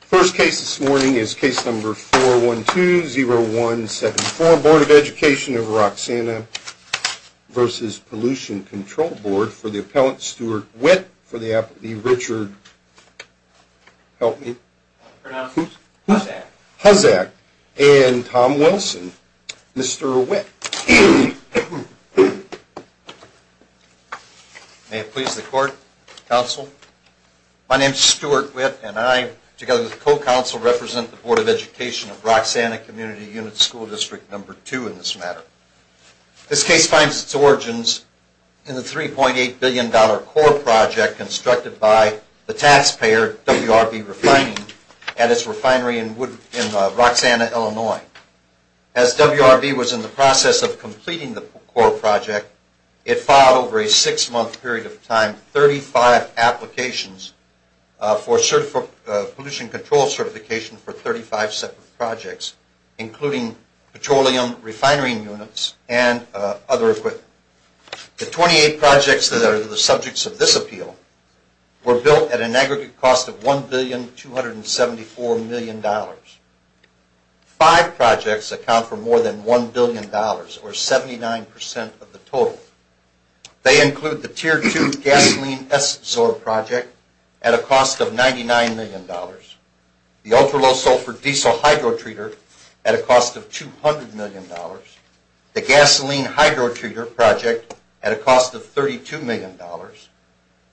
First case this morning is case number 412-0124, Board of Education of Roxana v. Pollution Control Board, for the appellant Stuart Witt, for the applicant Richard Hussack, and Tom Wilson. Mr. Witt. May it please the court, counsel. My name is Stuart Witt, and I, together with the co-counsel, represent the Board of Education of Roxana Community Unit School District No. 2 in this matter. This case finds its origins in the $3.8 billion dollar core project constructed by the taxpayer, WRB Refining, at its refinery in Roxana, Illinois. As WRB was in the process of completing the core project, it filed, over a six-month period of time, 35 applications for pollution control certification for 35 separate projects, including petroleum refinery units and other equipment. The 28 projects that are the subjects of this appeal were built at an aggregate cost of $1,274,000,000. Five projects account for more than $1,000,000,000, or 79% of the total. They include the Tier 2 gasoline S-absorb project at a cost of $99,000,000. The ultra-low sulfur diesel hydrotreater at a cost of $200,000,000. The gasoline hydrotreater project at a cost of $32,000,000.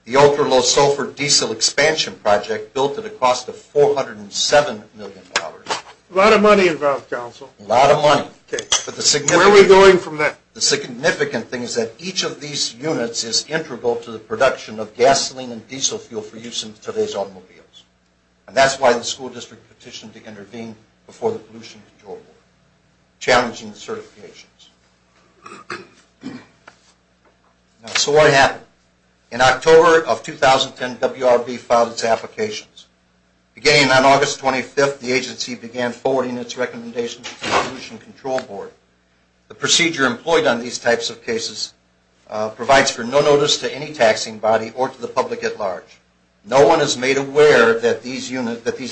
The ultra-low sulfur diesel expansion project built at a cost of $407,000,000. A lot of money involved, counsel. A lot of money. Where are we going from that? The significant thing is that each of these units is integral to the production of gasoline and diesel fuel for use in today's automobiles. And that's why the school district petitioned to intervene before the Pollution Control Board, challenging the certifications. So what happened? In October of 2010, WRB filed its applications. Beginning on August 25th, the agency began forwarding its recommendations to the Pollution Control Board. The procedure employed on these types of cases provides for no notice to any taxing body or to the public at large. No one is made aware that these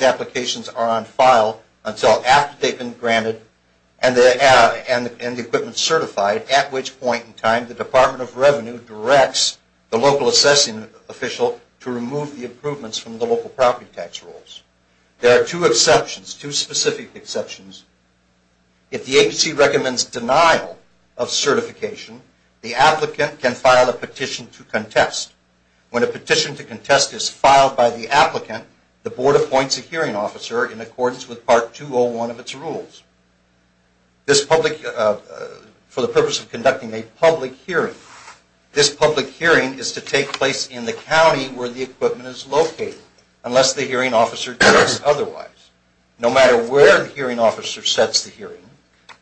applications are on file until after they've been granted and the equipment certified, at which point in time the Department of Revenue directs the local assessing official to remove the improvements from the local property tax rules. There are two exceptions, two specific exceptions. If the agency recommends denial of certification, the applicant can file a petition to contest. When a petition to contest is filed by the applicant, the board appoints a hearing officer in accordance with Part 201 of its rules. For the purpose of conducting a public hearing, this public hearing is to take place in the county where the equipment is located, unless the hearing officer directs otherwise. No matter where the hearing officer sets the hearing,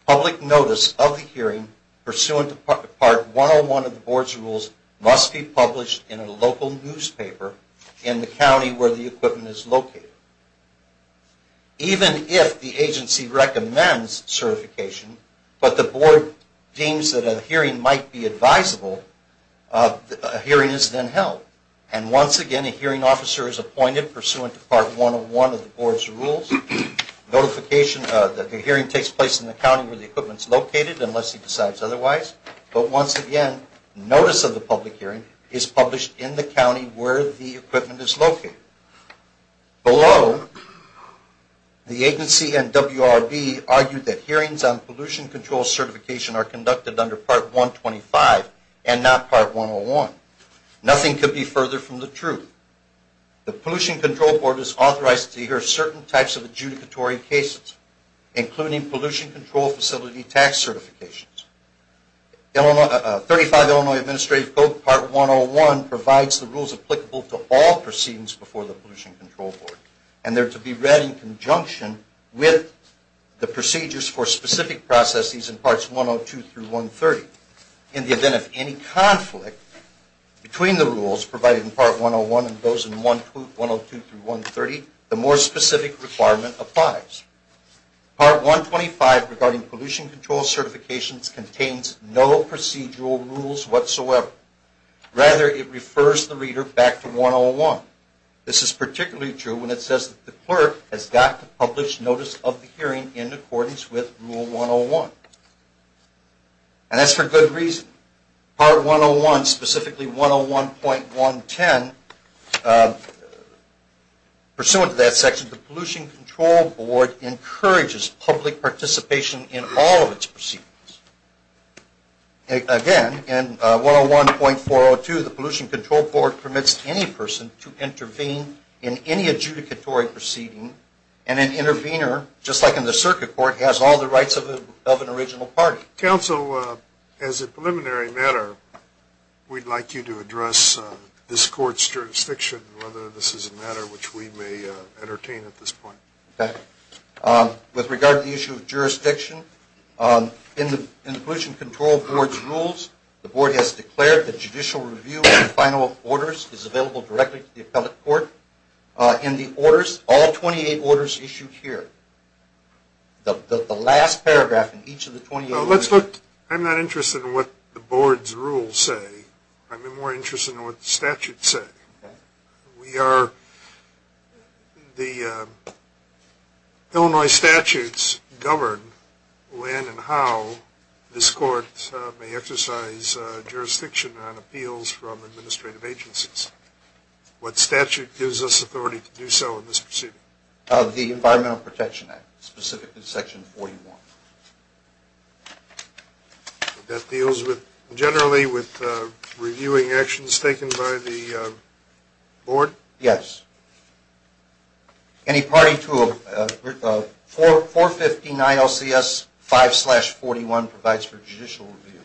public notice of the hearing pursuant to Part 101 of the board's rules must be published in a local newspaper in the county where the equipment is located. Even if the agency recommends certification, but the board deems that a hearing might be advisable, a hearing is then held. And once again, a hearing officer is appointed pursuant to Part 101 of the board's rules. The hearing takes place in the county where the equipment is located, unless he decides otherwise. But once again, notice of the public hearing is published in the county where the equipment is located. Below, the agency and WRB argue that hearings on pollution control certification are conducted under Part 125 and not Part 101. Nothing could be further from the truth. The Pollution Control Board is authorized to hear certain types of adjudicatory cases, including pollution control facility tax certifications. 35 Illinois Administrative Code Part 101 provides the rules applicable to all proceedings before the Pollution Control Board, and they are to be read in conjunction with the procedures for specific processes in Parts 102 through 130. In the event of any conflict between the rules provided in Part 101 and those in 102 through 130, the more specific requirement applies. Part 125 regarding pollution control certifications contains no procedural rules whatsoever. Rather, it refers the reader back to 101. This is particularly true when it says that the clerk has got to publish notice of the hearing in accordance with Rule 101. And that's for good reason. Part 101, specifically 101.110, pursuant to that section, the Pollution Control Board encourages public participation in all of its proceedings. Again, in 101.402, the Pollution Control Board permits any person to intervene in any adjudicatory proceeding, and an intervener, just like in the circuit court, has all the rights of an original party. Counsel, as a preliminary matter, we'd like you to address this court's jurisdiction, whether this is a matter which we may entertain at this point. Okay. With regard to the issue of jurisdiction, in the Pollution Control Board's rules, the Board has declared that judicial review of the final orders is available directly to the appellate court. In the orders, all 28 orders issued here, the last paragraph in each of the 28 orders. I'm not interested in what the Board's rules say. I'm more interested in what the statutes say. The Illinois statutes govern when and how this court may exercise jurisdiction on appeals from administrative agencies. What statute gives us authority to do so in this proceeding? The Environmental Protection Act, specifically Section 41. That deals generally with reviewing actions taken by the Board? Yes. Any party to a 415 ILCS 5-41 provides for judicial review.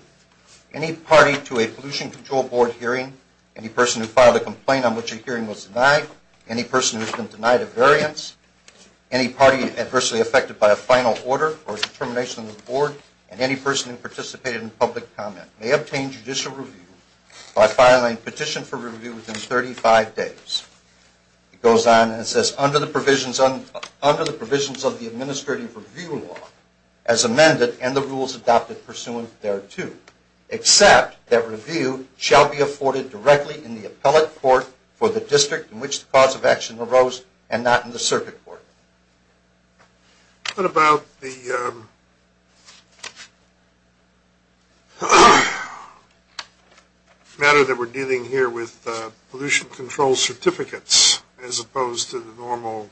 Any party to a Pollution Control Board hearing, any person who filed a complaint on which a hearing was denied, any person who has been denied a variance, any party adversely affected by a final order or determination of the Board, and any person who participated in public comment may obtain judicial review by filing a petition for review within 35 days. It goes on and says, Under the provisions of the administrative review law as amended and the rules adopted pursuant thereto, except that review shall be afforded directly in the appellate court for the district in which the cause of action arose and not in the circuit court. What about the matter that we're dealing here with pollution control certificates, as opposed to the normal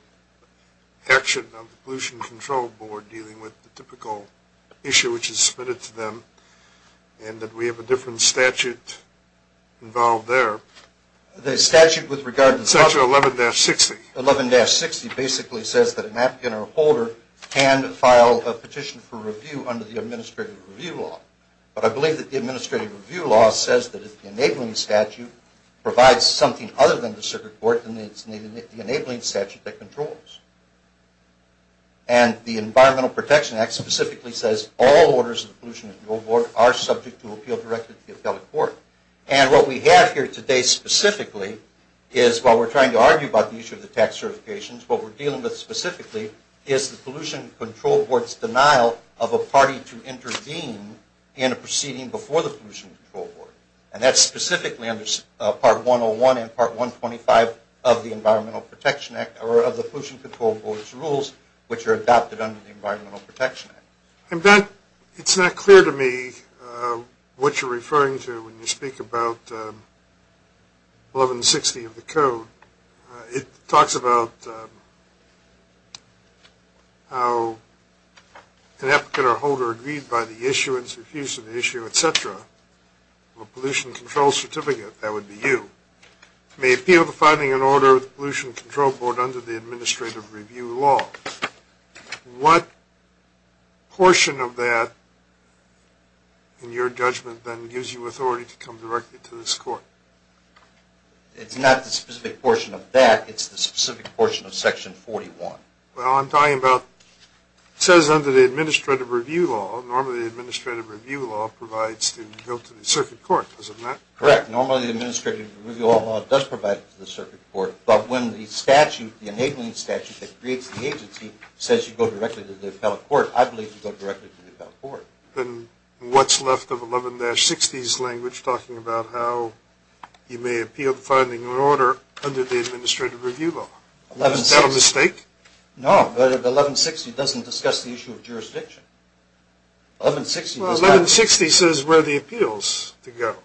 action of the Pollution Control Board dealing with the typical issue which is submitted to them, and that we have a different statute involved there? The statute with regard to... Section 11-60. 11-60 basically says that an applicant or a holder can file a petition for review under the administrative review law. But I believe that the administrative review law says that if the enabling statute provides something other than the circuit court, then it's the enabling statute that controls. And the Environmental Protection Act specifically says all orders of the Pollution Control Board are subject to appeal directed to the appellate court. And what we have here today specifically is while we're trying to argue about the issue of the tax certifications, what we're dealing with specifically is the Pollution Control Board's denial of a party to intervene in a proceeding before the Pollution Control Board. And that's specifically under Part 101 and Part 125 of the Environmental Protection Act, or of the Pollution Control Board's rules which are adopted under the Environmental Protection Act. It's not clear to me what you're referring to when you speak about 11-60 of the code. It talks about how an applicant or a holder agreed by the issuance, refusal to issue, et cetera, of a Pollution Control Certificate, that would be you, may appeal to filing an order with the Pollution Control Board under the administrative review law. What portion of that, in your judgment, then, gives you authority to come directly to this court? It's not the specific portion of that. It's the specific portion of Section 41. Well, I'm talking about it says under the administrative review law, normally the administrative review law provides the appeal to the circuit court. Does it not? Correct. Normally the administrative review law does provide it to the circuit court. But when the statute, the enabling statute that creates the agency, says you go directly to the appellate court, I believe you go directly to the appellate court. Then what's left of 11-60's language talking about how you may appeal to filing an order under the administrative review law? Is that a mistake? No, but 11-60 doesn't discuss the issue of jurisdiction. 11-60 does not. Well, 11-60 says where the appeal's to go.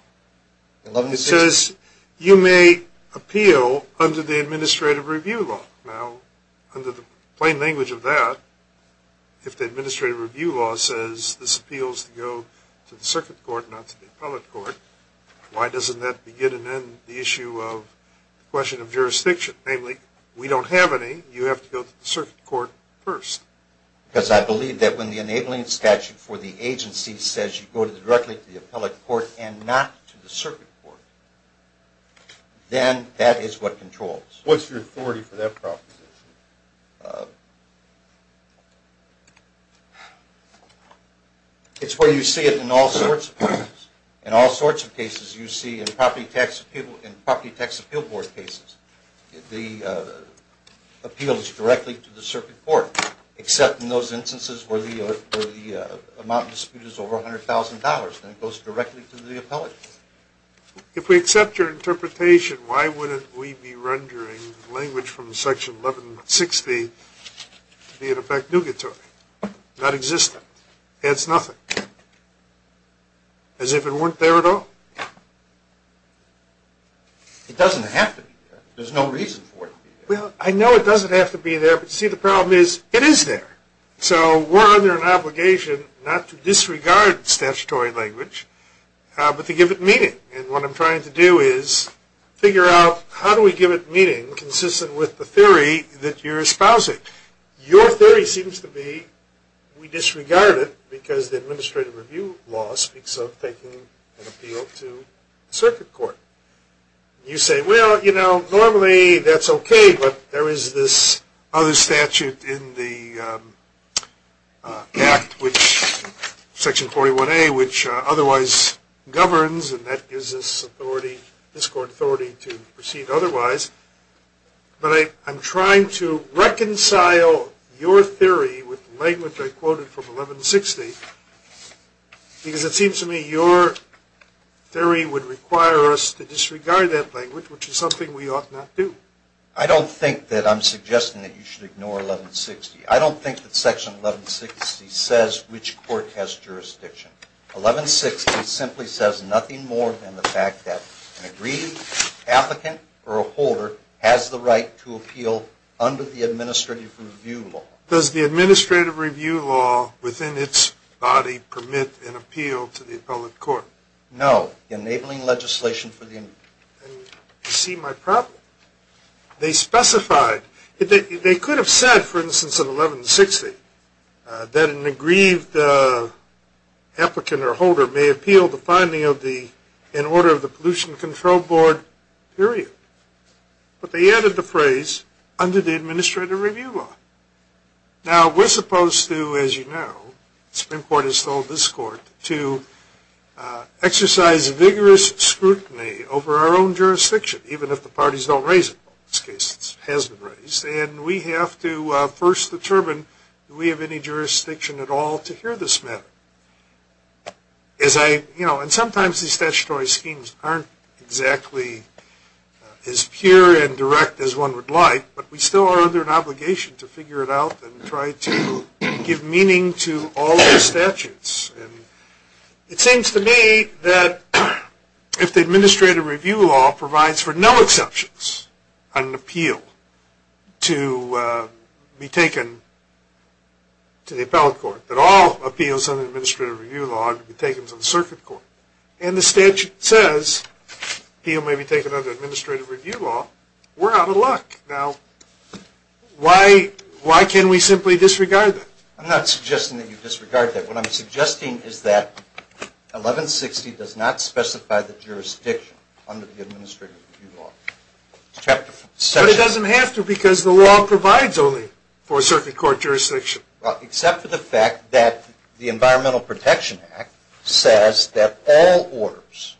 It says you may appeal under the administrative review law. Now, under the plain language of that, if the administrative review law says this appeals to go to the circuit court, not to the appellate court, why doesn't that begin and end the issue of the question of jurisdiction? Namely, we don't have any. You have to go to the circuit court first. Because I believe that when the enabling statute for the agency says you go directly to the appellate court and not to the circuit court, then that is what controls. What's your authority for that proposition? It's where you see it in all sorts of cases. In all sorts of cases you see in property tax appeal board cases. The appeal is directly to the circuit court, except in those instances where the amount of dispute is over $100,000. Then it goes directly to the appellate court. If we accept your interpretation, why wouldn't we be rendering language from Section 11-60 to be, in effect, nougatory, nonexistent, adds nothing, as if it weren't there at all? It doesn't have to be there. There's no reason for it to be there. Well, I know it doesn't have to be there. But, see, the problem is it is there. So we're under an obligation not to disregard statutory language, but to give it meaning. And what I'm trying to do is figure out how do we give it meaning consistent with the theory that you're espousing. Your theory seems to be we disregard it because the administrative review law speaks of taking an appeal to the circuit court. You say, well, you know, normally that's okay, but there is this other statute in the Act, which Section 41-A, which otherwise governs, and that gives us authority, this court authority, to proceed otherwise. But I'm trying to reconcile your theory with the language I quoted from 11-60, because it seems to me your theory would require us to disregard that language, which is something we ought not do. I don't think that I'm suggesting that you should ignore 11-60. I don't think that Section 11-60 says which court has jurisdiction. 11-60 simply says nothing more than the fact that an agreed applicant or a holder has the right to appeal under the administrative review law. Does the administrative review law within its body permit an appeal to the appellate court? No. Enabling legislation for the... You see my problem. They specified, they could have said, for instance, in 11-60, that an agreed applicant or holder may appeal the finding of the, in order of the pollution control board period. But they added the phrase, under the administrative review law. Now, we're supposed to, as you know, Supreme Court has told this court, to exercise vigorous scrutiny over our own jurisdiction, even if the parties don't raise it. In this case, it hasn't raised. And we have to first determine do we have any jurisdiction at all to hear this matter. As I, you know, and sometimes these statutory schemes aren't exactly as pure and direct as one would like, but we still are under an obligation to figure it out and try to give meaning to all the statutes. And it seems to me that if the administrative review law provides for no exceptions on an appeal to be taken to the appellate court, that all appeals under the administrative review law are to be taken to the circuit court, and the statute says the appeal may be taken under administrative review law, we're out of luck. Now, why can we simply disregard that? I'm not suggesting that you disregard that. What I'm suggesting is that 11-60 does not specify the jurisdiction under the administrative review law. But it doesn't have to because the law provides only for a circuit court jurisdiction. Well, except for the fact that the Environmental Protection Act says that all orders,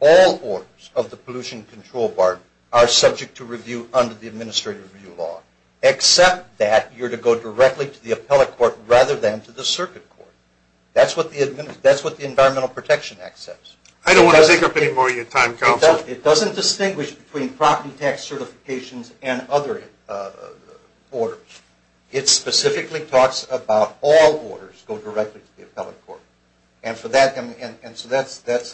all orders of the pollution control bar are subject to review under the administrative review law, except that you're to go directly to the appellate court rather than to the circuit court. That's what the Environmental Protection Act says. I don't want to take up any more of your time, counsel. It doesn't distinguish between property tax certifications and other orders. It specifically talks about all orders go directly to the appellate court. And so that's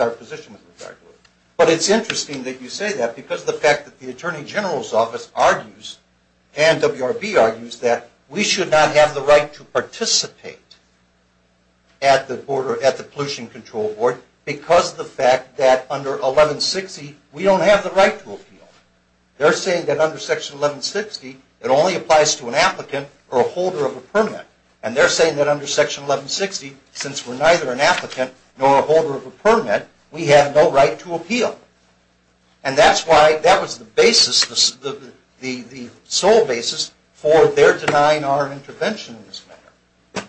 our position with regard to it. But it's interesting that you say that because of the fact that the Attorney General's Office argues and WRB argues that we should not have the right to participate at the pollution control board because of the fact that under 11-60 we don't have the right to appeal. They're saying that under Section 11-60 it only applies to an applicant or a holder of a permit. And they're saying that under Section 11-60, since we're neither an applicant nor a holder of a permit, we have no right to appeal. And that's why that was the basis, the sole basis for their denying our intervention in this matter.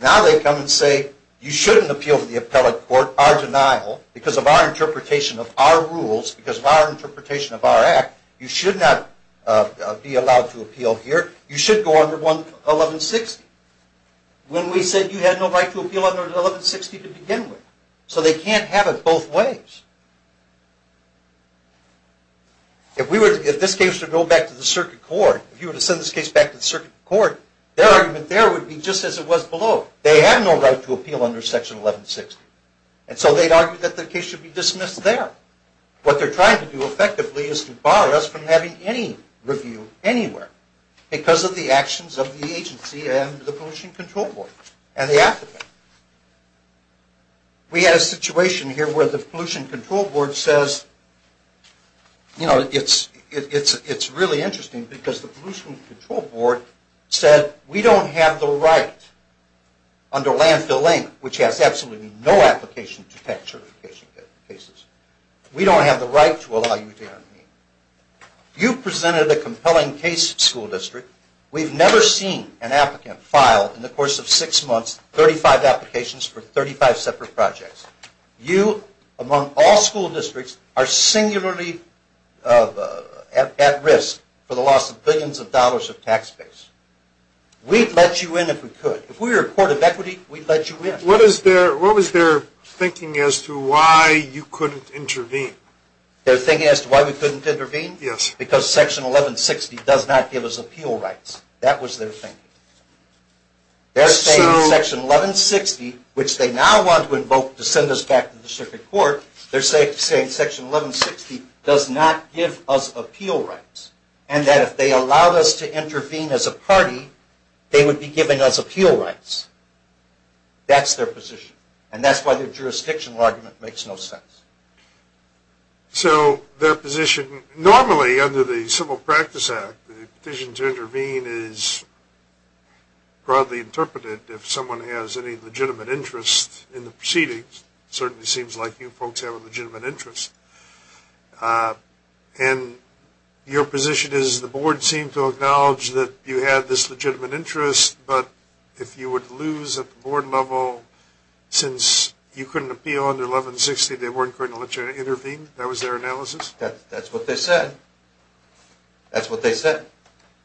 Now they come and say you shouldn't appeal to the appellate court, our denial, because of our interpretation of our rules, because of our interpretation of our act, you should not be allowed to appeal here. You should go under 11-60. When we said you had no right to appeal under 11-60 to begin with. So they can't have it both ways. If this case were to go back to the circuit court, if you were to send this case back to the circuit court, their argument there would be just as it was below. They have no right to appeal under Section 11-60. And so they'd argue that the case should be dismissed there. What they're trying to do effectively is to bar us from having any review anywhere, because of the actions of the agency and the Pollution Control Board and the applicant. We had a situation here where the Pollution Control Board says, you know, it's really interesting, because the Pollution Control Board said we don't have the right under landfill lane, which has absolutely no application to tax certification cases. We don't have the right to allow you to intervene. You presented a compelling case to the school district. We've never seen an applicant file in the course of six months 35 applications for 35 separate projects. You, among all school districts, are singularly at risk for the loss of billions of dollars of tax base. We'd let you in if we could. If we were a court of equity, we'd let you in. What was their thinking as to why you couldn't intervene? Their thinking as to why we couldn't intervene? Yes. Because Section 11-60 does not give us appeal rights. That was their thinking. They're saying Section 11-60, which they now want to invoke to send us back to the circuit court, they're saying Section 11-60 does not give us appeal rights, and that if they allowed us to intervene as a party, they would be giving us appeal rights. That's their position. And that's why their jurisdictional argument makes no sense. So their position, normally under the Civil Practice Act, the decision to intervene is broadly interpreted if someone has any legitimate interest in the proceedings. It certainly seems like you folks have a legitimate interest. And your position is the board seemed to acknowledge that you had this legitimate interest, but if you were to lose at the board level since you couldn't appeal under 11-60, they weren't going to let you intervene? That was their analysis? That's what they said. That's what they said.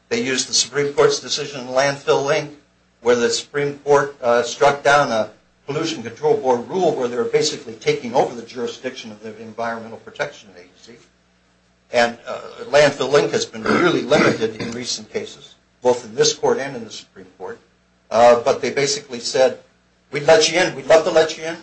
They used the Supreme Court's decision in Landfill Link where the Supreme Court struck down a Pollution Control Board rule where they were basically taking over the jurisdiction of the Environmental Protection Agency. And Landfill Link has been really limited in recent cases, both in this court and in the Supreme Court. But they basically said, we'd let you in. We'd love to let you in.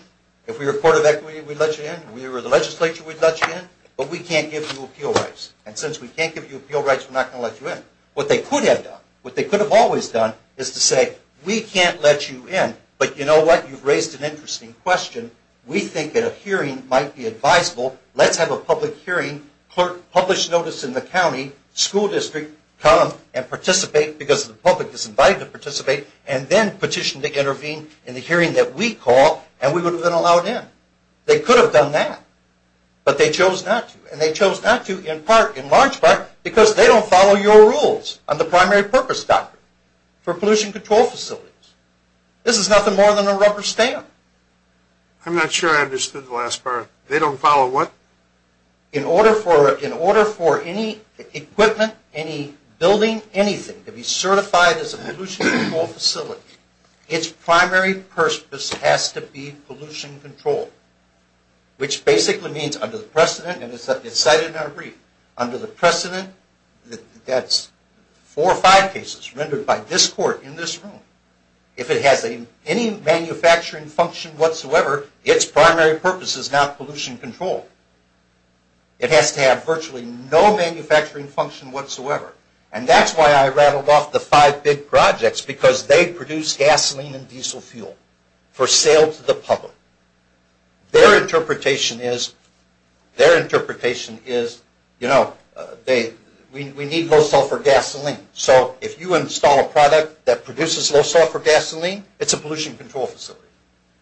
If we were a court of equity, we'd let you in. If we were the legislature, we'd let you in. But we can't give you appeal rights. And since we can't give you appeal rights, we're not going to let you in. What they could have done, what they could have always done, is to say, we can't let you in. But you know what? You've raised an interesting question. We think that a hearing might be advisable. Let's have a public hearing. Publish notice in the county school district. Come and participate because the public is invited to participate. And then petition to intervene in the hearing that we call. And we would have been allowed in. They could have done that. But they chose not to. And they chose not to in large part because they don't follow your rules on the primary purpose doctrine. For pollution control facilities. This is nothing more than a rubber stamp. I'm not sure I understood the last part. They don't follow what? In order for any equipment, any building, anything to be certified as a pollution control facility, its primary purpose has to be pollution control. Which basically means under the precedent, and it's cited in our brief, under the precedent, that's four or five cases rendered by this court in this room. If it has any manufacturing function whatsoever, its primary purpose is not pollution control. It has to have virtually no manufacturing function whatsoever. And that's why I rattled off the five big projects. Because they produce gasoline and diesel fuel for sale to the public. Their interpretation is, you know, we need low sulfur gasoline. So if you install a product that produces low sulfur gasoline, it's a pollution control facility.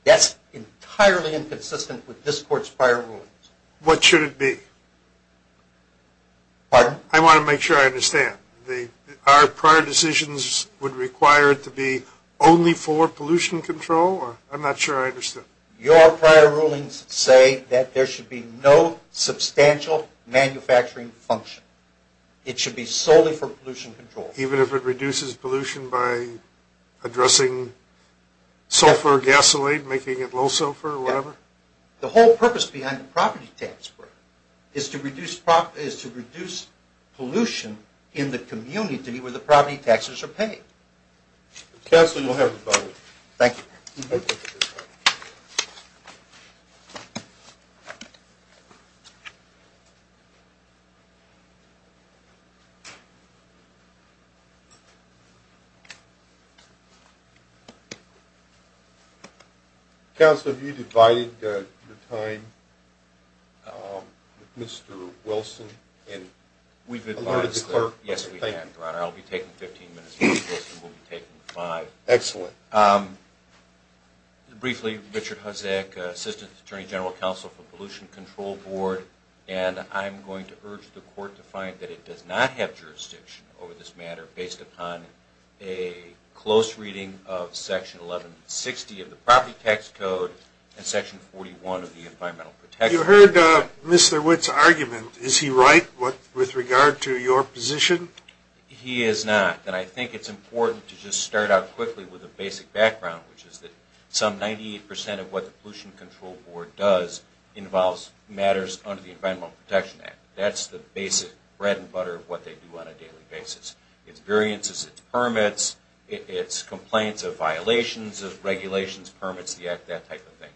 That's entirely inconsistent with this court's prior rulings. What should it be? I want to make sure I understand. Our prior decisions would require it to be only for pollution control? I'm not sure I understand. Your prior rulings say that there should be no substantial manufacturing function. It should be solely for pollution control. Even if it reduces pollution by addressing sulfur or gasoline, making it low sulfur or whatever? The whole purpose behind the property tax break is to reduce pollution in the community where the property taxes are paid. Counselor, you'll have your vote. Thank you. Thank you. Counselor, have you divided your time with Mr. Wilson? Yes, we have, Your Honor. I'll be taking 15 minutes. Mr. Wilson will be taking five. Excellent. Briefly, Richard Hozek, Assistant Attorney General Counsel for Pollution Control Board, and I'm going to urge the court to find that it does not have jurisdiction over this matter based upon a close reading of Section 1160 of the Property Tax Code and Section 41 of the Environmental Protection Act. You heard Mr. Witt's argument. Is he right with regard to your position? He is not. And I think it's important to just start out quickly with a basic background, which is that some 98% of what the Pollution Control Board does involves matters under the Environmental Protection Act. That's the basic bread and butter of what they do on a daily basis. It's variances, it's permits, it's complaints of violations of regulations, permits, that type of thing.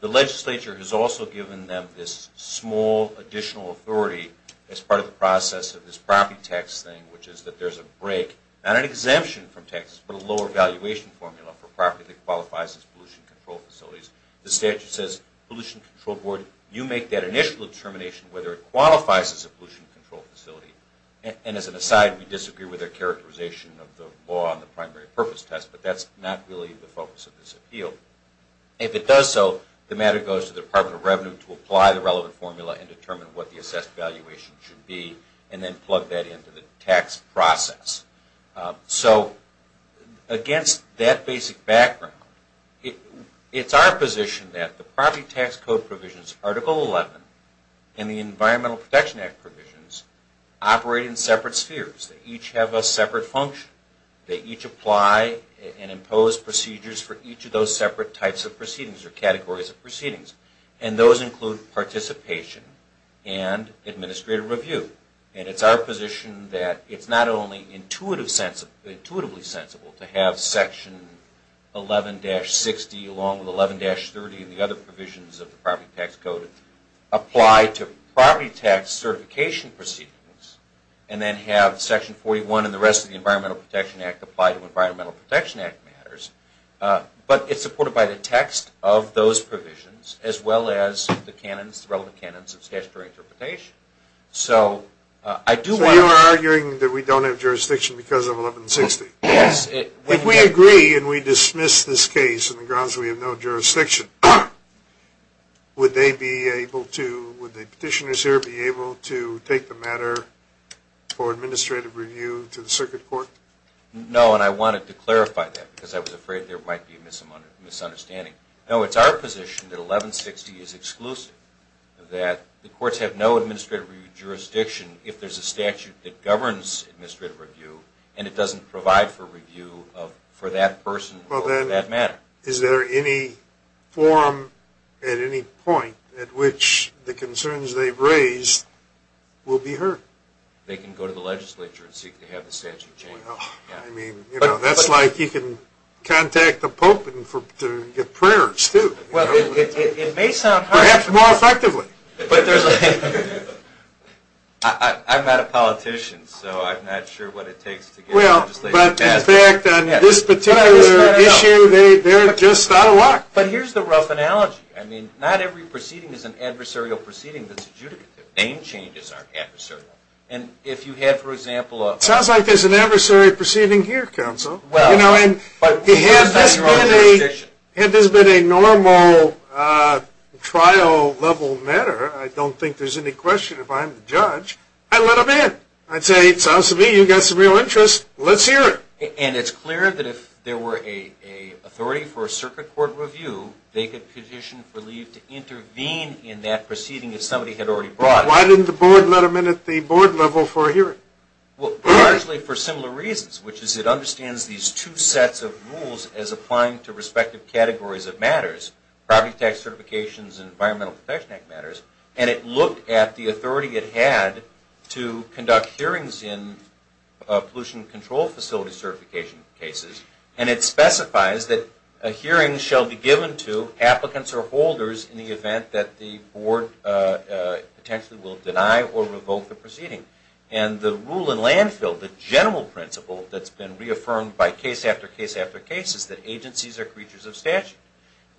The legislature has also given them this small additional authority as part of the process of this property tax thing, which is that there's a break, not an exemption from taxes, but a lower valuation formula for property that qualifies as pollution control facilities. The statute says, Pollution Control Board, you make that initial determination whether it qualifies as a pollution control facility. And as an aside, we disagree with their characterization of the law on the primary purpose test, but that's not really the focus of this appeal. If it does so, the matter goes to the Department of Revenue to apply the relevant formula and determine what the assessed valuation should be and then plug that into the tax process. So against that basic background, it's our position that the property tax code provisions, Article 11, and the Environmental Protection Act provisions operate in separate spheres. They each have a separate function. They each apply and impose procedures for each of those separate types of proceedings or categories of proceedings. And those include participation and administrative review. And it's our position that it's not only intuitively sensible to have Section 11-60 along with 11-30 and the other provisions of the property tax code apply to property tax certification proceedings and then have Section 41 and the rest of the Environmental Protection Act apply to Environmental Protection Act matters, but it's supported by the text of those provisions as well as the relevant canons of statutory interpretation. So I do want to... So you're arguing that we don't have jurisdiction because of 11-60? Yes. If we agree and we dismiss this case on the grounds that we have no jurisdiction, would the petitioners here be able to take the matter for administrative review to the Circuit Court? No, and I wanted to clarify that because I was afraid there might be a misunderstanding. No, it's our position that 11-60 is exclusive, that the courts have no administrative jurisdiction if there's a statute that governs administrative review and it doesn't provide for review for that person or that matter. Is there any forum at any point at which the concerns they've raised will be heard? They can go to the legislature and seek to have the statute changed. I mean, you know, that's like you can contact the Pope to get prayers, too. Well, it may sound... Perhaps more effectively. I'm not a politician, so I'm not sure what it takes to get legislation passed. Well, but in fact, on this particular issue, they're just out of luck. But here's the rough analogy. I mean, not every proceeding is an adversarial proceeding that's adjudicative. Name changes aren't adversarial. And if you had, for example, a... It sounds like there's an adversary proceeding here, counsel. Well, but... You know, and had this been a normal trial-level matter, I don't think there's any question if I'm the judge, I'd let them in. I'd say, it sounds to me you've got some real interest. Let's hear it. And it's clear that if there were an authority for a Circuit Court review, they could petition for leave to intervene in that proceeding if somebody had already brought it. Why didn't the Board let them in at the Board level for a hearing? Well, largely for similar reasons, which is it understands these two sets of rules as applying to respective categories of matters, property tax certifications and Environmental Protection Act matters, and it looked at the authority it had to conduct hearings in pollution control facility certification cases, and it specifies that a hearing shall be given to applicants or holders in the event that the Board potentially will deny or revoke the proceeding. And the rule in landfill, the general principle that's been reaffirmed by case after case after case, is that agencies are creatures of statute.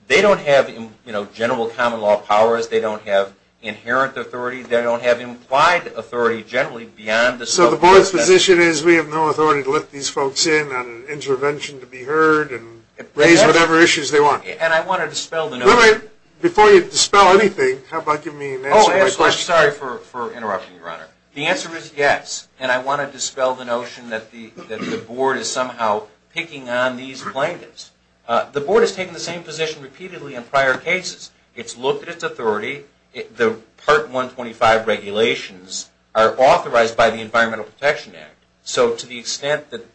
They don't have, you know, general common law powers. They don't have inherent authority. They don't have implied authority generally beyond the... My position is we have no authority to let these folks in on an intervention to be heard and raise whatever issues they want. And I want to dispel the notion... Before you dispel anything, how about giving me an answer to my question? Oh, absolutely. Sorry for interrupting, Your Honor. The answer is yes. And I want to dispel the notion that the Board is somehow picking on these plaintiffs. The Board has taken the same position repeatedly in prior cases. It's looked at its authority. Part 125 regulations are authorized by the Environmental Protection Act. So to the extent that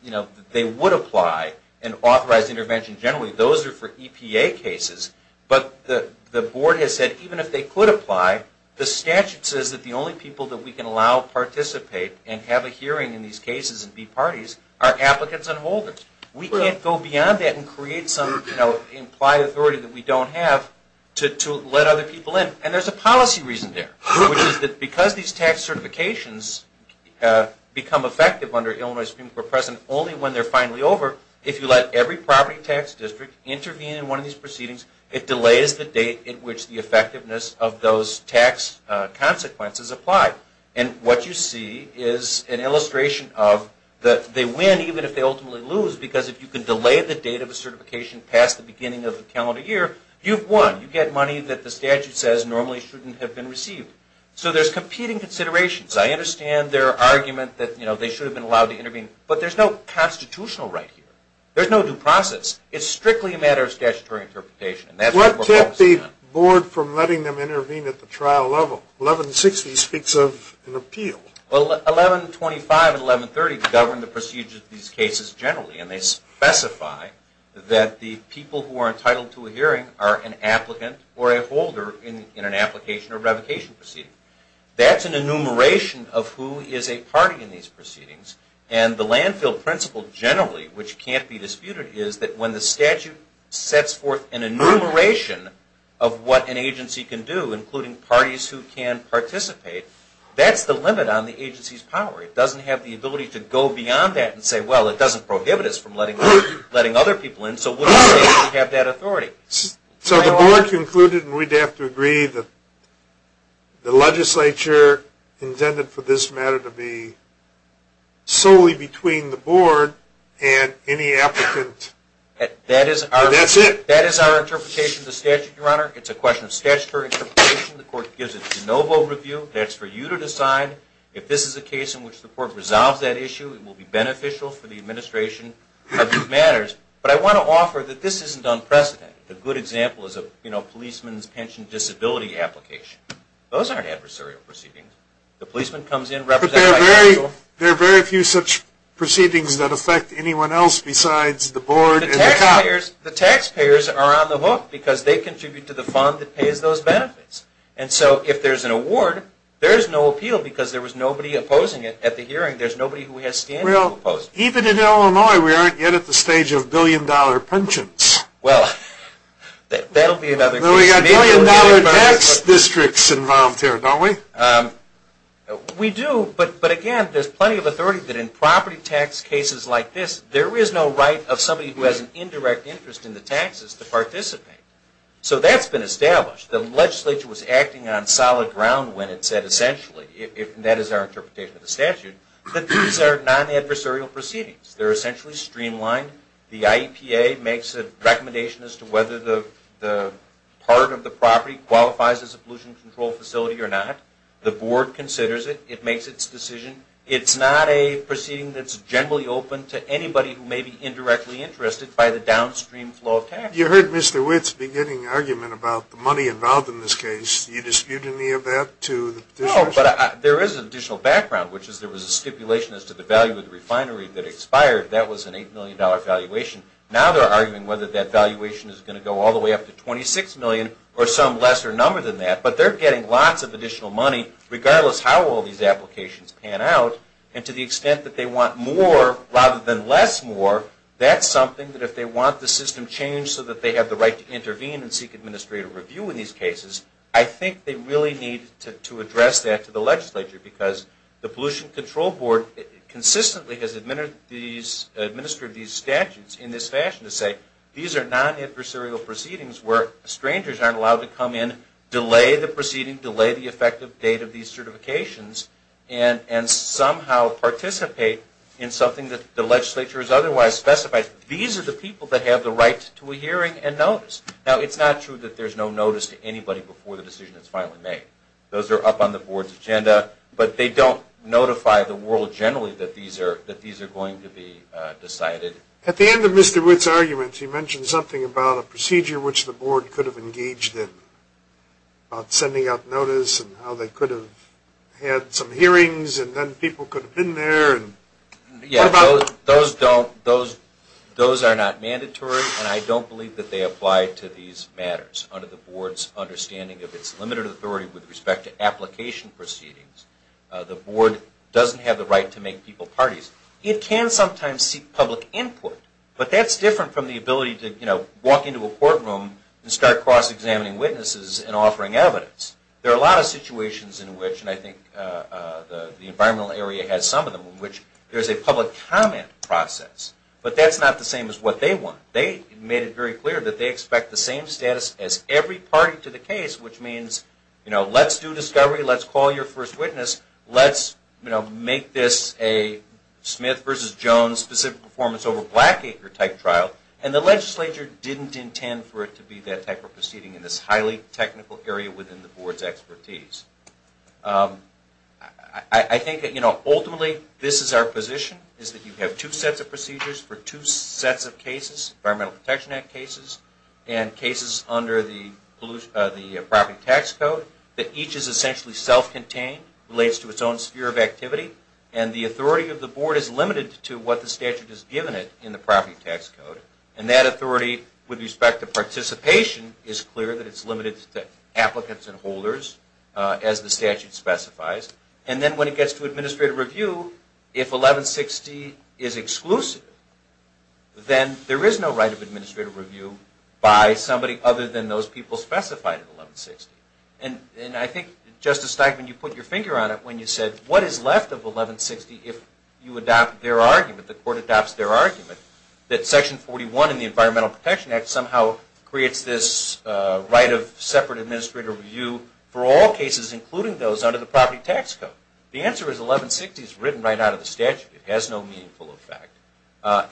they would apply an authorized intervention generally, those are for EPA cases. But the Board has said even if they could apply, the statute says that the only people that we can allow participate and have a hearing in these cases and be parties are applicants and holders. We can't go beyond that and create some implied authority that we don't have to let other people in. And there's a policy reason there, which is that because these tax certifications become effective under Illinois Supreme Court precedent only when they're finally over, if you let every property tax district intervene in one of these proceedings, it delays the date at which the effectiveness of those tax consequences apply. And what you see is an illustration of that they win even if they ultimately lose because if you can delay the date of a certification past the beginning of the calendar year, you've won. You get money that the statute says normally shouldn't have been received. So there's competing considerations. I understand their argument that they should have been allowed to intervene, but there's no constitutional right here. There's no due process. It's strictly a matter of statutory interpretation. What kept the Board from letting them intervene at the trial level? 1160 speaks of an appeal. Well, 1125 and 1130 govern the procedures of these cases generally, and they specify that the people who are entitled to a hearing are an applicant or a holder in an application or revocation proceeding. That's an enumeration of who is a party in these proceedings, and the landfill principle generally, which can't be disputed, is that when the statute sets forth an enumeration of what an agency can do, including parties who can participate, that's the limit on the agency's power. It doesn't have the ability to go beyond that and say, well, it doesn't prohibit us from letting other people in, so wouldn't it be safe to have that authority? So the Board concluded, and we'd have to agree, that the legislature intended for this matter to be solely between the Board and any applicant, and that's it? That is our interpretation of the statute, Your Honor. It's a question of statutory interpretation. The Court gives a de novo review, and it's for you to decide if this is a case in which the Court resolves that issue, it will be beneficial for the administration of these matters. But I want to offer that this isn't unprecedented. A good example is a policeman's pension disability application. Those aren't adversarial proceedings. The policeman comes in, represented by counsel. But there are very few such proceedings that affect anyone else besides the Board and the cops. The taxpayers are on the hook because they contribute to the fund that pays those benefits. And so if there's an award, there's no appeal because there was nobody opposing it at the hearing. There's nobody who has standing to oppose it. Well, even in Illinois, we aren't yet at the stage of billion-dollar pensions. Well, that'll be another case. We've got billion-dollar tax districts involved here, don't we? We do, but again, there's plenty of authority that in property tax cases like this, there is no right of somebody who has an indirect interest in the taxes to participate. So that's been established. The legislature was acting on solid ground when it said essentially, and that is our interpretation of the statute, that these are non-adversarial proceedings. They're essentially streamlined. The IEPA makes a recommendation as to whether the part of the property qualifies as a pollution control facility or not. The Board considers it. It makes its decision. It's not a proceeding that's generally open to anybody who may be indirectly interested by the downstream flow of taxes. You heard Mr. Witt's beginning argument about the money involved in this case. Do you dispute any of that to the petitioners? No, but there is an additional background, which is there was a stipulation as to the value of the refinery that expired. That was an $8 million valuation. Now they're arguing whether that valuation is going to go all the way up to $26 million or some lesser number than that. But they're getting lots of additional money regardless how all these applications pan out. And to the extent that they want more rather than less more, that's something that if they want the system changed so that they have the right to intervene and seek administrative review in these cases, I think they really need to address that to the legislature because the Pollution Control Board consistently has administered these statutes in this fashion to say these are non-adversarial proceedings where strangers aren't allowed to come in, delay the proceeding, delay the effective date of these certifications, and somehow participate in something that the legislature has otherwise specified. These are the people that have the right to a hearing and notice. Now it's not true that there's no notice to anybody before the decision is finally made. Those are up on the board's agenda, but they don't notify the world generally that these are going to be decided. At the end of Mr. Witt's argument, he mentioned something about a procedure which the board could have engaged in, about sending out notice and how they could have had some hearings and then people could have been there. Those are not mandatory, and I don't believe that they apply to these matters. Under the board's understanding of its limited authority with respect to application proceedings, the board doesn't have the right to make people parties. It can sometimes seek public input, but that's different from the ability to walk into a courtroom and start cross-examining witnesses and offering evidence. There are a lot of situations in which, and I think the environmental area has some of them, in which there's a public comment process, but that's not the same as what they want. They made it very clear that they expect the same status as every party to the case, which means let's do discovery, let's call your first witness, let's make this a Smith versus Jones specific performance over Blackacre type trial, and the legislature didn't intend for it to be that type of proceeding in this highly technical area within the board's expertise. I think that ultimately this is our position, is that you have two sets of procedures for two sets of cases, Environmental Protection Act cases and cases under the Property Tax Code, that each is essentially self-contained, relates to its own sphere of activity, and the authority of the board is limited to what the statute has given it in the Property Tax Code, and that authority with respect to participation is clear that it's limited to applicants and holders, as the statute specifies. And then when it gets to administrative review, if 1160 is exclusive, then there is no right of administrative review by somebody other than those people specified in 1160. And I think, Justice Steigman, you put your finger on it when you said, what is left of 1160 if you adopt their argument, the court adopts their argument, that Section 41 in the Environmental Protection Act somehow creates this right of separate administrative review for all cases, including those under the Property Tax Code? The answer is 1160 is written right out of the statute. It has no meaningful effect.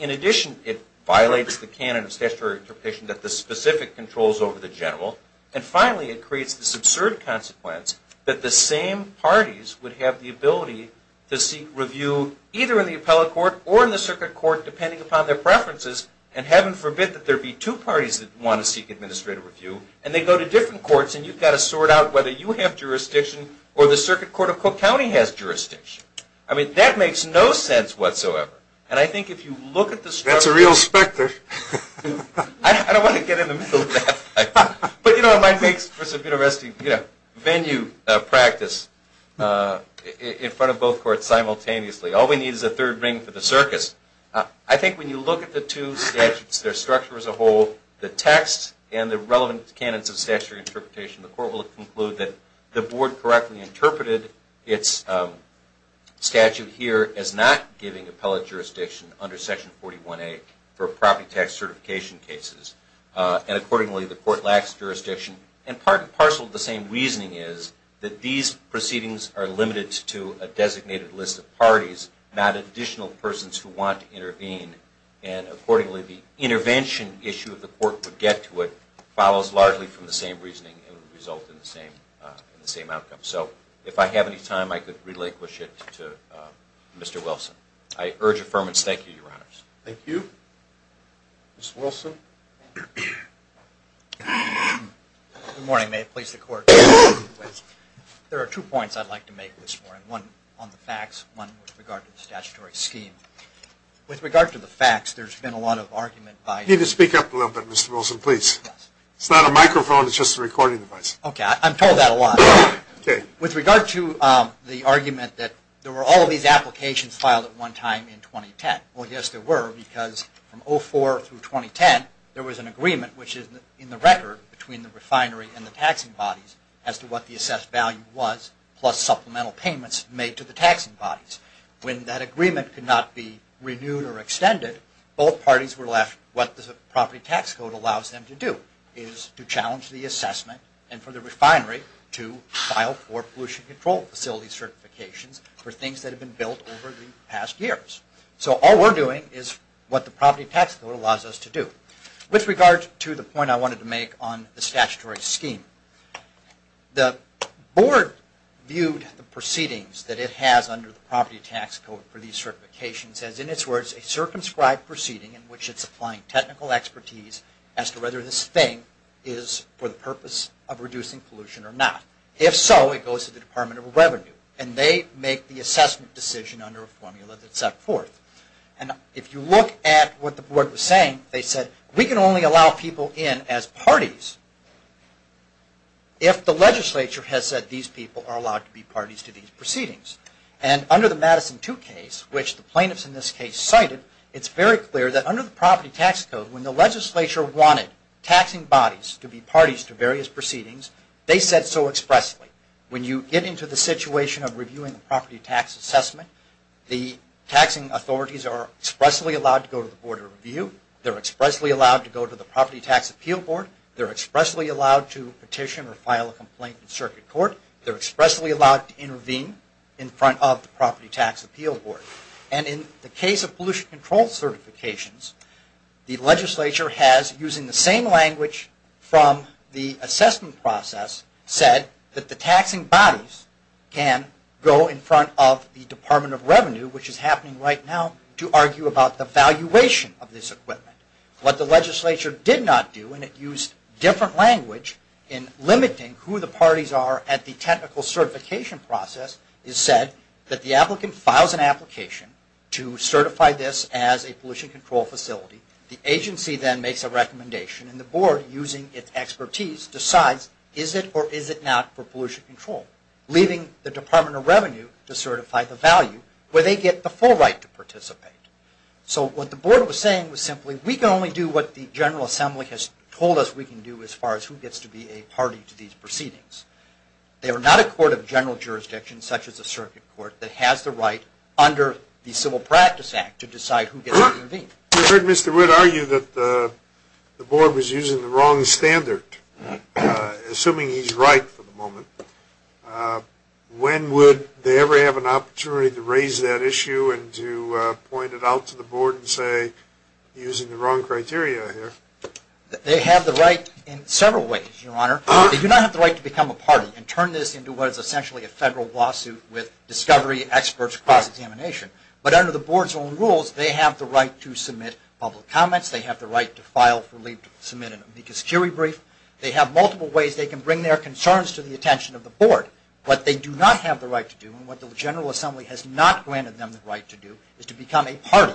In addition, it violates the canon of statutory interpretation that the specific controls over the general, and finally, it creates this absurd consequence that the same parties would have the ability to seek review either in the appellate court or in the circuit court, depending upon their preferences, and heaven forbid that there be two parties that want to seek administrative review, and they go to different courts, and you've got to sort out whether you have jurisdiction or the Circuit Court of Cook County has jurisdiction. I mean, that makes no sense whatsoever. And I think if you look at the structure... That's a real specter. I don't want to get in the middle of that. But you know, it might make for some interesting venue practice in front of both courts simultaneously. All we need is a third ring for the circus. I think when you look at the two statutes, their structure as a whole, the text and the relevant canons of statutory interpretation, the court will conclude that the board correctly interpreted its statute here as not giving appellate jurisdiction under Section 41A for property tax certification cases. And accordingly, the court lacks jurisdiction. And part and parcel of the same reasoning is that these proceedings are limited to a designated list of parties, not additional persons who want to intervene. And accordingly, the intervention issue of the court would get to it, follows largely from the same reasoning, and would result in the same outcome. So if I have any time, I could relinquish it to Mr. Wilson. I urge affirmance. Thank you, Your Honors. Thank you. Mr. Wilson. Good morning. May it please the Court. There are two points I'd like to make this morning. One on the facts, one with regard to the statutory scheme. With regard to the facts, there's been a lot of argument by... You need to speak up a little bit, Mr. Wilson, please. It's not a microphone, it's just a recording device. Okay. I'm told that a lot. With regard to the argument that there were all of these applications filed at one time in 2010. Well, yes, there were, because from 2004 through 2010, there was an agreement, which is in the record, between the refinery and the taxing bodies as to what the assessed value was, plus supplemental payments made to the taxing bodies. When that agreement could not be renewed or extended, both parties were left... What the property tax code allows them to do is to challenge the assessment and for the refinery to file for pollution control facility certifications for things that have been built over the past years. So all we're doing is what the property tax code allows us to do. With regard to the point I wanted to make on the statutory scheme, the board viewed the proceedings that it has under the property tax code for these certifications as, in its words, a circumscribed proceeding in which it's applying technical expertise as to whether this thing is for the purpose of reducing pollution or not. If so, it goes to the Department of Revenue, and they make the assessment decision under a formula that's set forth. And if you look at what the board was saying, they said, we can only allow people in as parties if the legislature has said these people are allowed to be parties to these proceedings. And under the Madison 2 case, which the plaintiffs in this case cited, it's very clear that under the property tax code, when the legislature wanted taxing bodies to be parties to various proceedings, they said so expressly. When you get into the situation of reviewing the property tax assessment, the taxing authorities are expressly allowed to go to the board of review. They're expressly allowed to go to the property tax appeal board. They're expressly allowed to petition or file a complaint in circuit court. They're expressly allowed to intervene in front of the property tax appeal board. And in the case of pollution control certifications, the legislature has, using the same language from the assessment process, said that the taxing bodies can go in front of the Department of Revenue, which is happening right now, to argue about the valuation of this equipment. What the legislature did not do, and it used different language in limiting who the parties are at the technical certification process, is said that the applicant files an application to certify this as a pollution control facility. The agency then makes a recommendation, and the board, using its expertise, decides is it or is it not for pollution control, leaving the Department of Revenue to certify the value, where they get the full right to participate. So what the board was saying was simply, we can only do what the General Assembly has told us we can do as far as who gets to be a party to these proceedings. They are not a court of general jurisdiction, such as a circuit court, that has the right, under the Civil Practice Act, to decide who gets to intervene. You heard Mr. Wood argue that the board was using the wrong standard, assuming he's right for the moment. When would they ever have an opportunity to raise that issue and to point it out to the board and say, using the wrong criteria here? They have the right in several ways, Your Honor. They do not have the right to become a party and turn this into what is essentially a federal lawsuit with discovery experts cross-examination. But under the board's own rules, they have the right to submit public comments. They have the right to file for leave to submit an amicus curiae brief. They have multiple ways they can bring their concerns to the attention of the board. What they do not have the right to do, and what the General Assembly has not granted them the right to do, is to become a party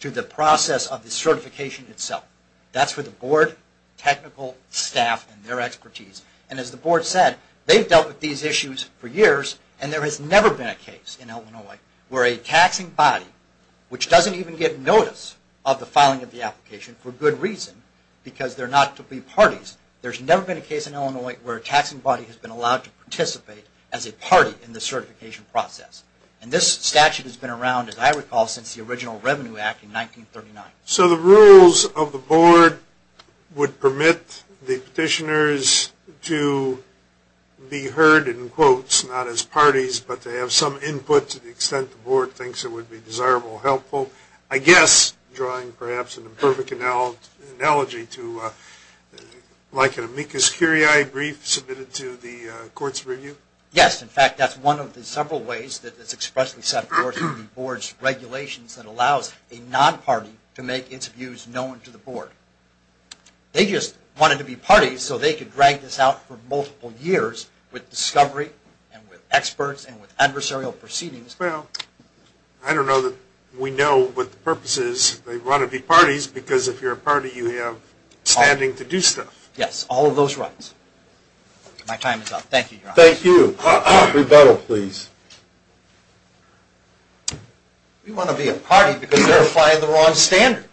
to the process of the certification itself. That's for the board, technical staff and their expertise. And as the board said, they've dealt with these issues for years and there has never been a case in Illinois where a taxing body, which doesn't even get notice of the filing of the application for good reason, because they're not to be parties, there's never been a case in Illinois where a taxing body has been allowed to participate as a party in the certification process. And this statute has been around, as I recall, since the original Revenue Act in 1939. So the rules of the board would permit the petitioners to be heard in quotes, not as parties, but to have some input to the extent the board thinks it would be desirable or helpful, I guess drawing perhaps an imperfect analogy to like an amicus curiae brief submitted to the Courts Review? Yes, in fact, that's one of the several ways that it's expressly set forth in the board's regulations that allows a non-party to make its views known to the board. They just wanted to be parties so they could drag this out for multiple years with discovery and with experts and with adversarial proceedings. Well, I don't know that we know what the purpose is. They want to be parties because if you're a party, you have standing to do stuff. Yes, all of those rights. My time is up. Thank you, Your Honor. Thank you. Rebuttal, please. We want to be a party because they're applying the wrong standard.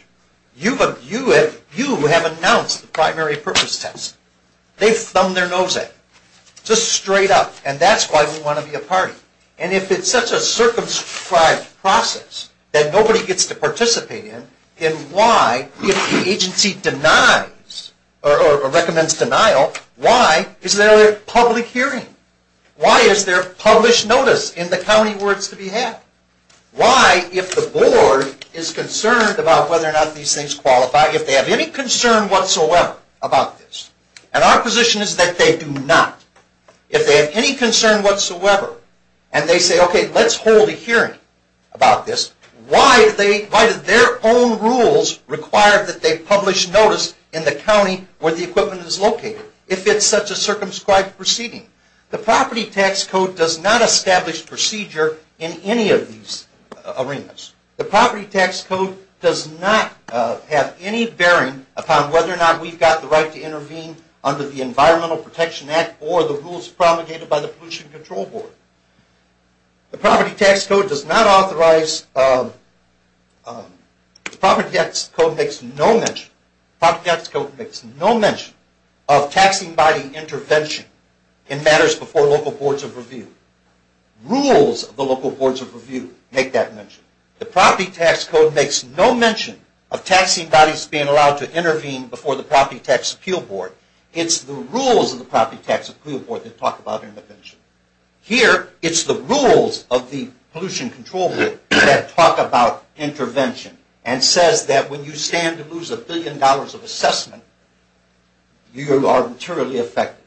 You have announced the primary purpose test. They've thumbed their nose at it, just straight up, and that's why we want to be a party. And if it's such a circumscribed process that nobody gets to participate in, then why, if the agency denies or recommends denial, why is there a public hearing? Why is there published notice in the county where it's to be had? Why, if the board is concerned about whether or not these things qualify, if they have any concern whatsoever about this, and our position is that they do not, if they have any concern whatsoever, and they say, okay, let's hold a hearing about this, why do their own rules require that they publish notice in the county where the equipment is located if it's such a circumscribed proceeding? The property tax code does not establish procedure in any of these arenas. The property tax code does not have any bearing upon whether or not we've got the right to intervene under the Environmental Protection Act or the rules promulgated by the Pollution Control Board. The property tax code does not authorize, the property tax code makes no mention, the property tax code makes no mention of taxing body intervention in matters before local boards of review. Rules of the local boards of review make that mention. The property tax code makes no mention of taxing bodies being allowed to intervene before the Property Tax Appeal Board. It's the rules of the Property Tax Appeal Board that talk about intervention. Here, it's the rules of the Pollution Control Board that talk about intervention and says that when you stand to lose a billion dollars of assessment, you are materially affected.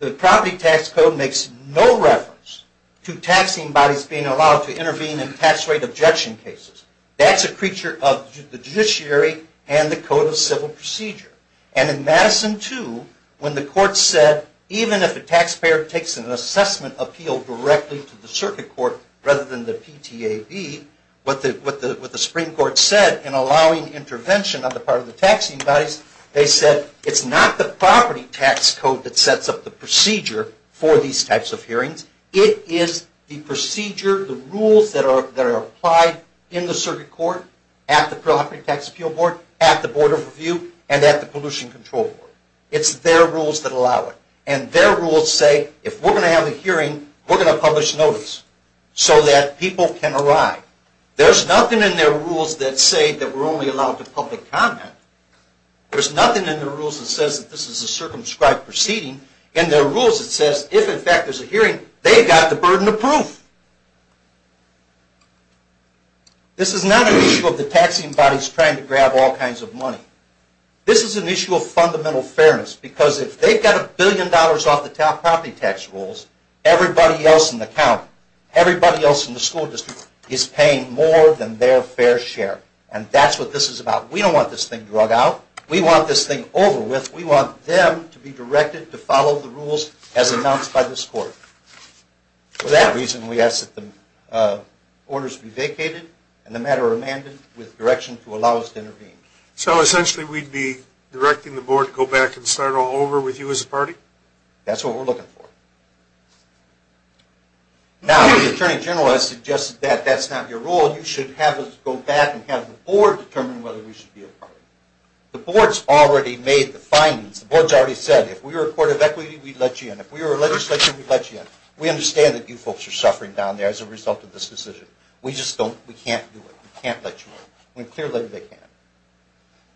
The property tax code makes no reference to taxing bodies being allowed to intervene in tax rate objection cases. That's a creature of the judiciary and the Code of Civil Procedure. And in Madison 2, when the court said, even if a taxpayer takes an assessment appeal directly to the circuit court, rather than the PTAB, what the Supreme Court said in allowing intervention on the part of the taxing bodies, they said it's not the property tax code that sets up the procedure for these types of hearings. It is the procedure, the rules that are applied in the circuit court, at the Property Tax Appeal Board, at the Board of Review, and at the Pollution Control Board. It's their rules that allow it. And their rules say, if we're going to have a hearing, we're going to publish notice so that people can arrive. There's nothing in their rules that say that we're only allowed to public comment. There's nothing in their rules that says that this is a circumscribed proceeding. In their rules it says, if in fact there's a hearing, they've got the burden of proof. This is not an issue of the taxing bodies trying to grab all kinds of money. This is an issue of fundamental fairness, because if they've got a billion dollars off the property tax rolls, everybody else in the county, everybody else in the school district, is paying more than their fair share. And that's what this is about. We don't want this thing drug out. We want this thing over with. We want them to be directed to follow the rules as announced by this court. For that reason, we ask that the orders be vacated and the matter remanded with direction to allow us to intervene. So essentially we'd be directing the board to go back and start all over with you as a party? That's what we're looking for. Now, the Attorney General has suggested that that's not your role. You should have us go back and have the board determine whether we should be a party. The board's already made the findings. The board's already said, if we were a court of equity, we'd let you in. If we were a legislature, we'd let you in. We understand that you folks are suffering down there as a result of this decision. We just don't. We can't do it. We can't let you in. We're clear that they can't.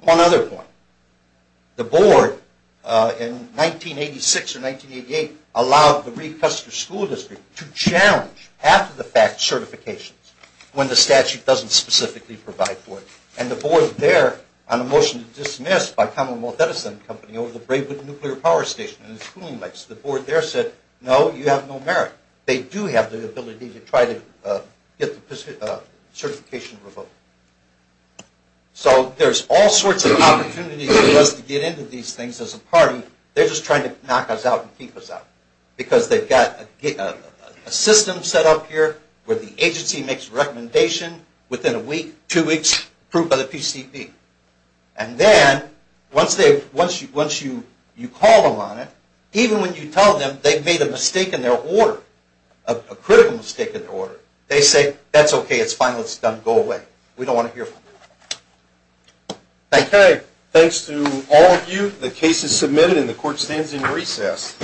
One other point. The board in 1986 or 1988 allowed the Recuster School District to challenge after-the-fact certifications when the statute doesn't specifically provide for it. And the board there, on a motion to dismiss by Commonwealth Edison Company over the Braidwood Nuclear Power Station and its cooling lights, the board there said, no, you have no merit. They do have the ability to try to get the certification revoked. So there's all sorts of opportunities for us to get into these things as a party. They're just trying to knock us out and keep us out because they've got a system set up here where the agency makes a recommendation within a week, two weeks, approved by the PCP. And then once you call them on it, even when you tell them they've made a mistake in their order, a critical mistake in their order, they say, that's okay, it's fine, let's go away. We don't want to hear from them. Thanks to all of you. The case is submitted and the court stands in recess.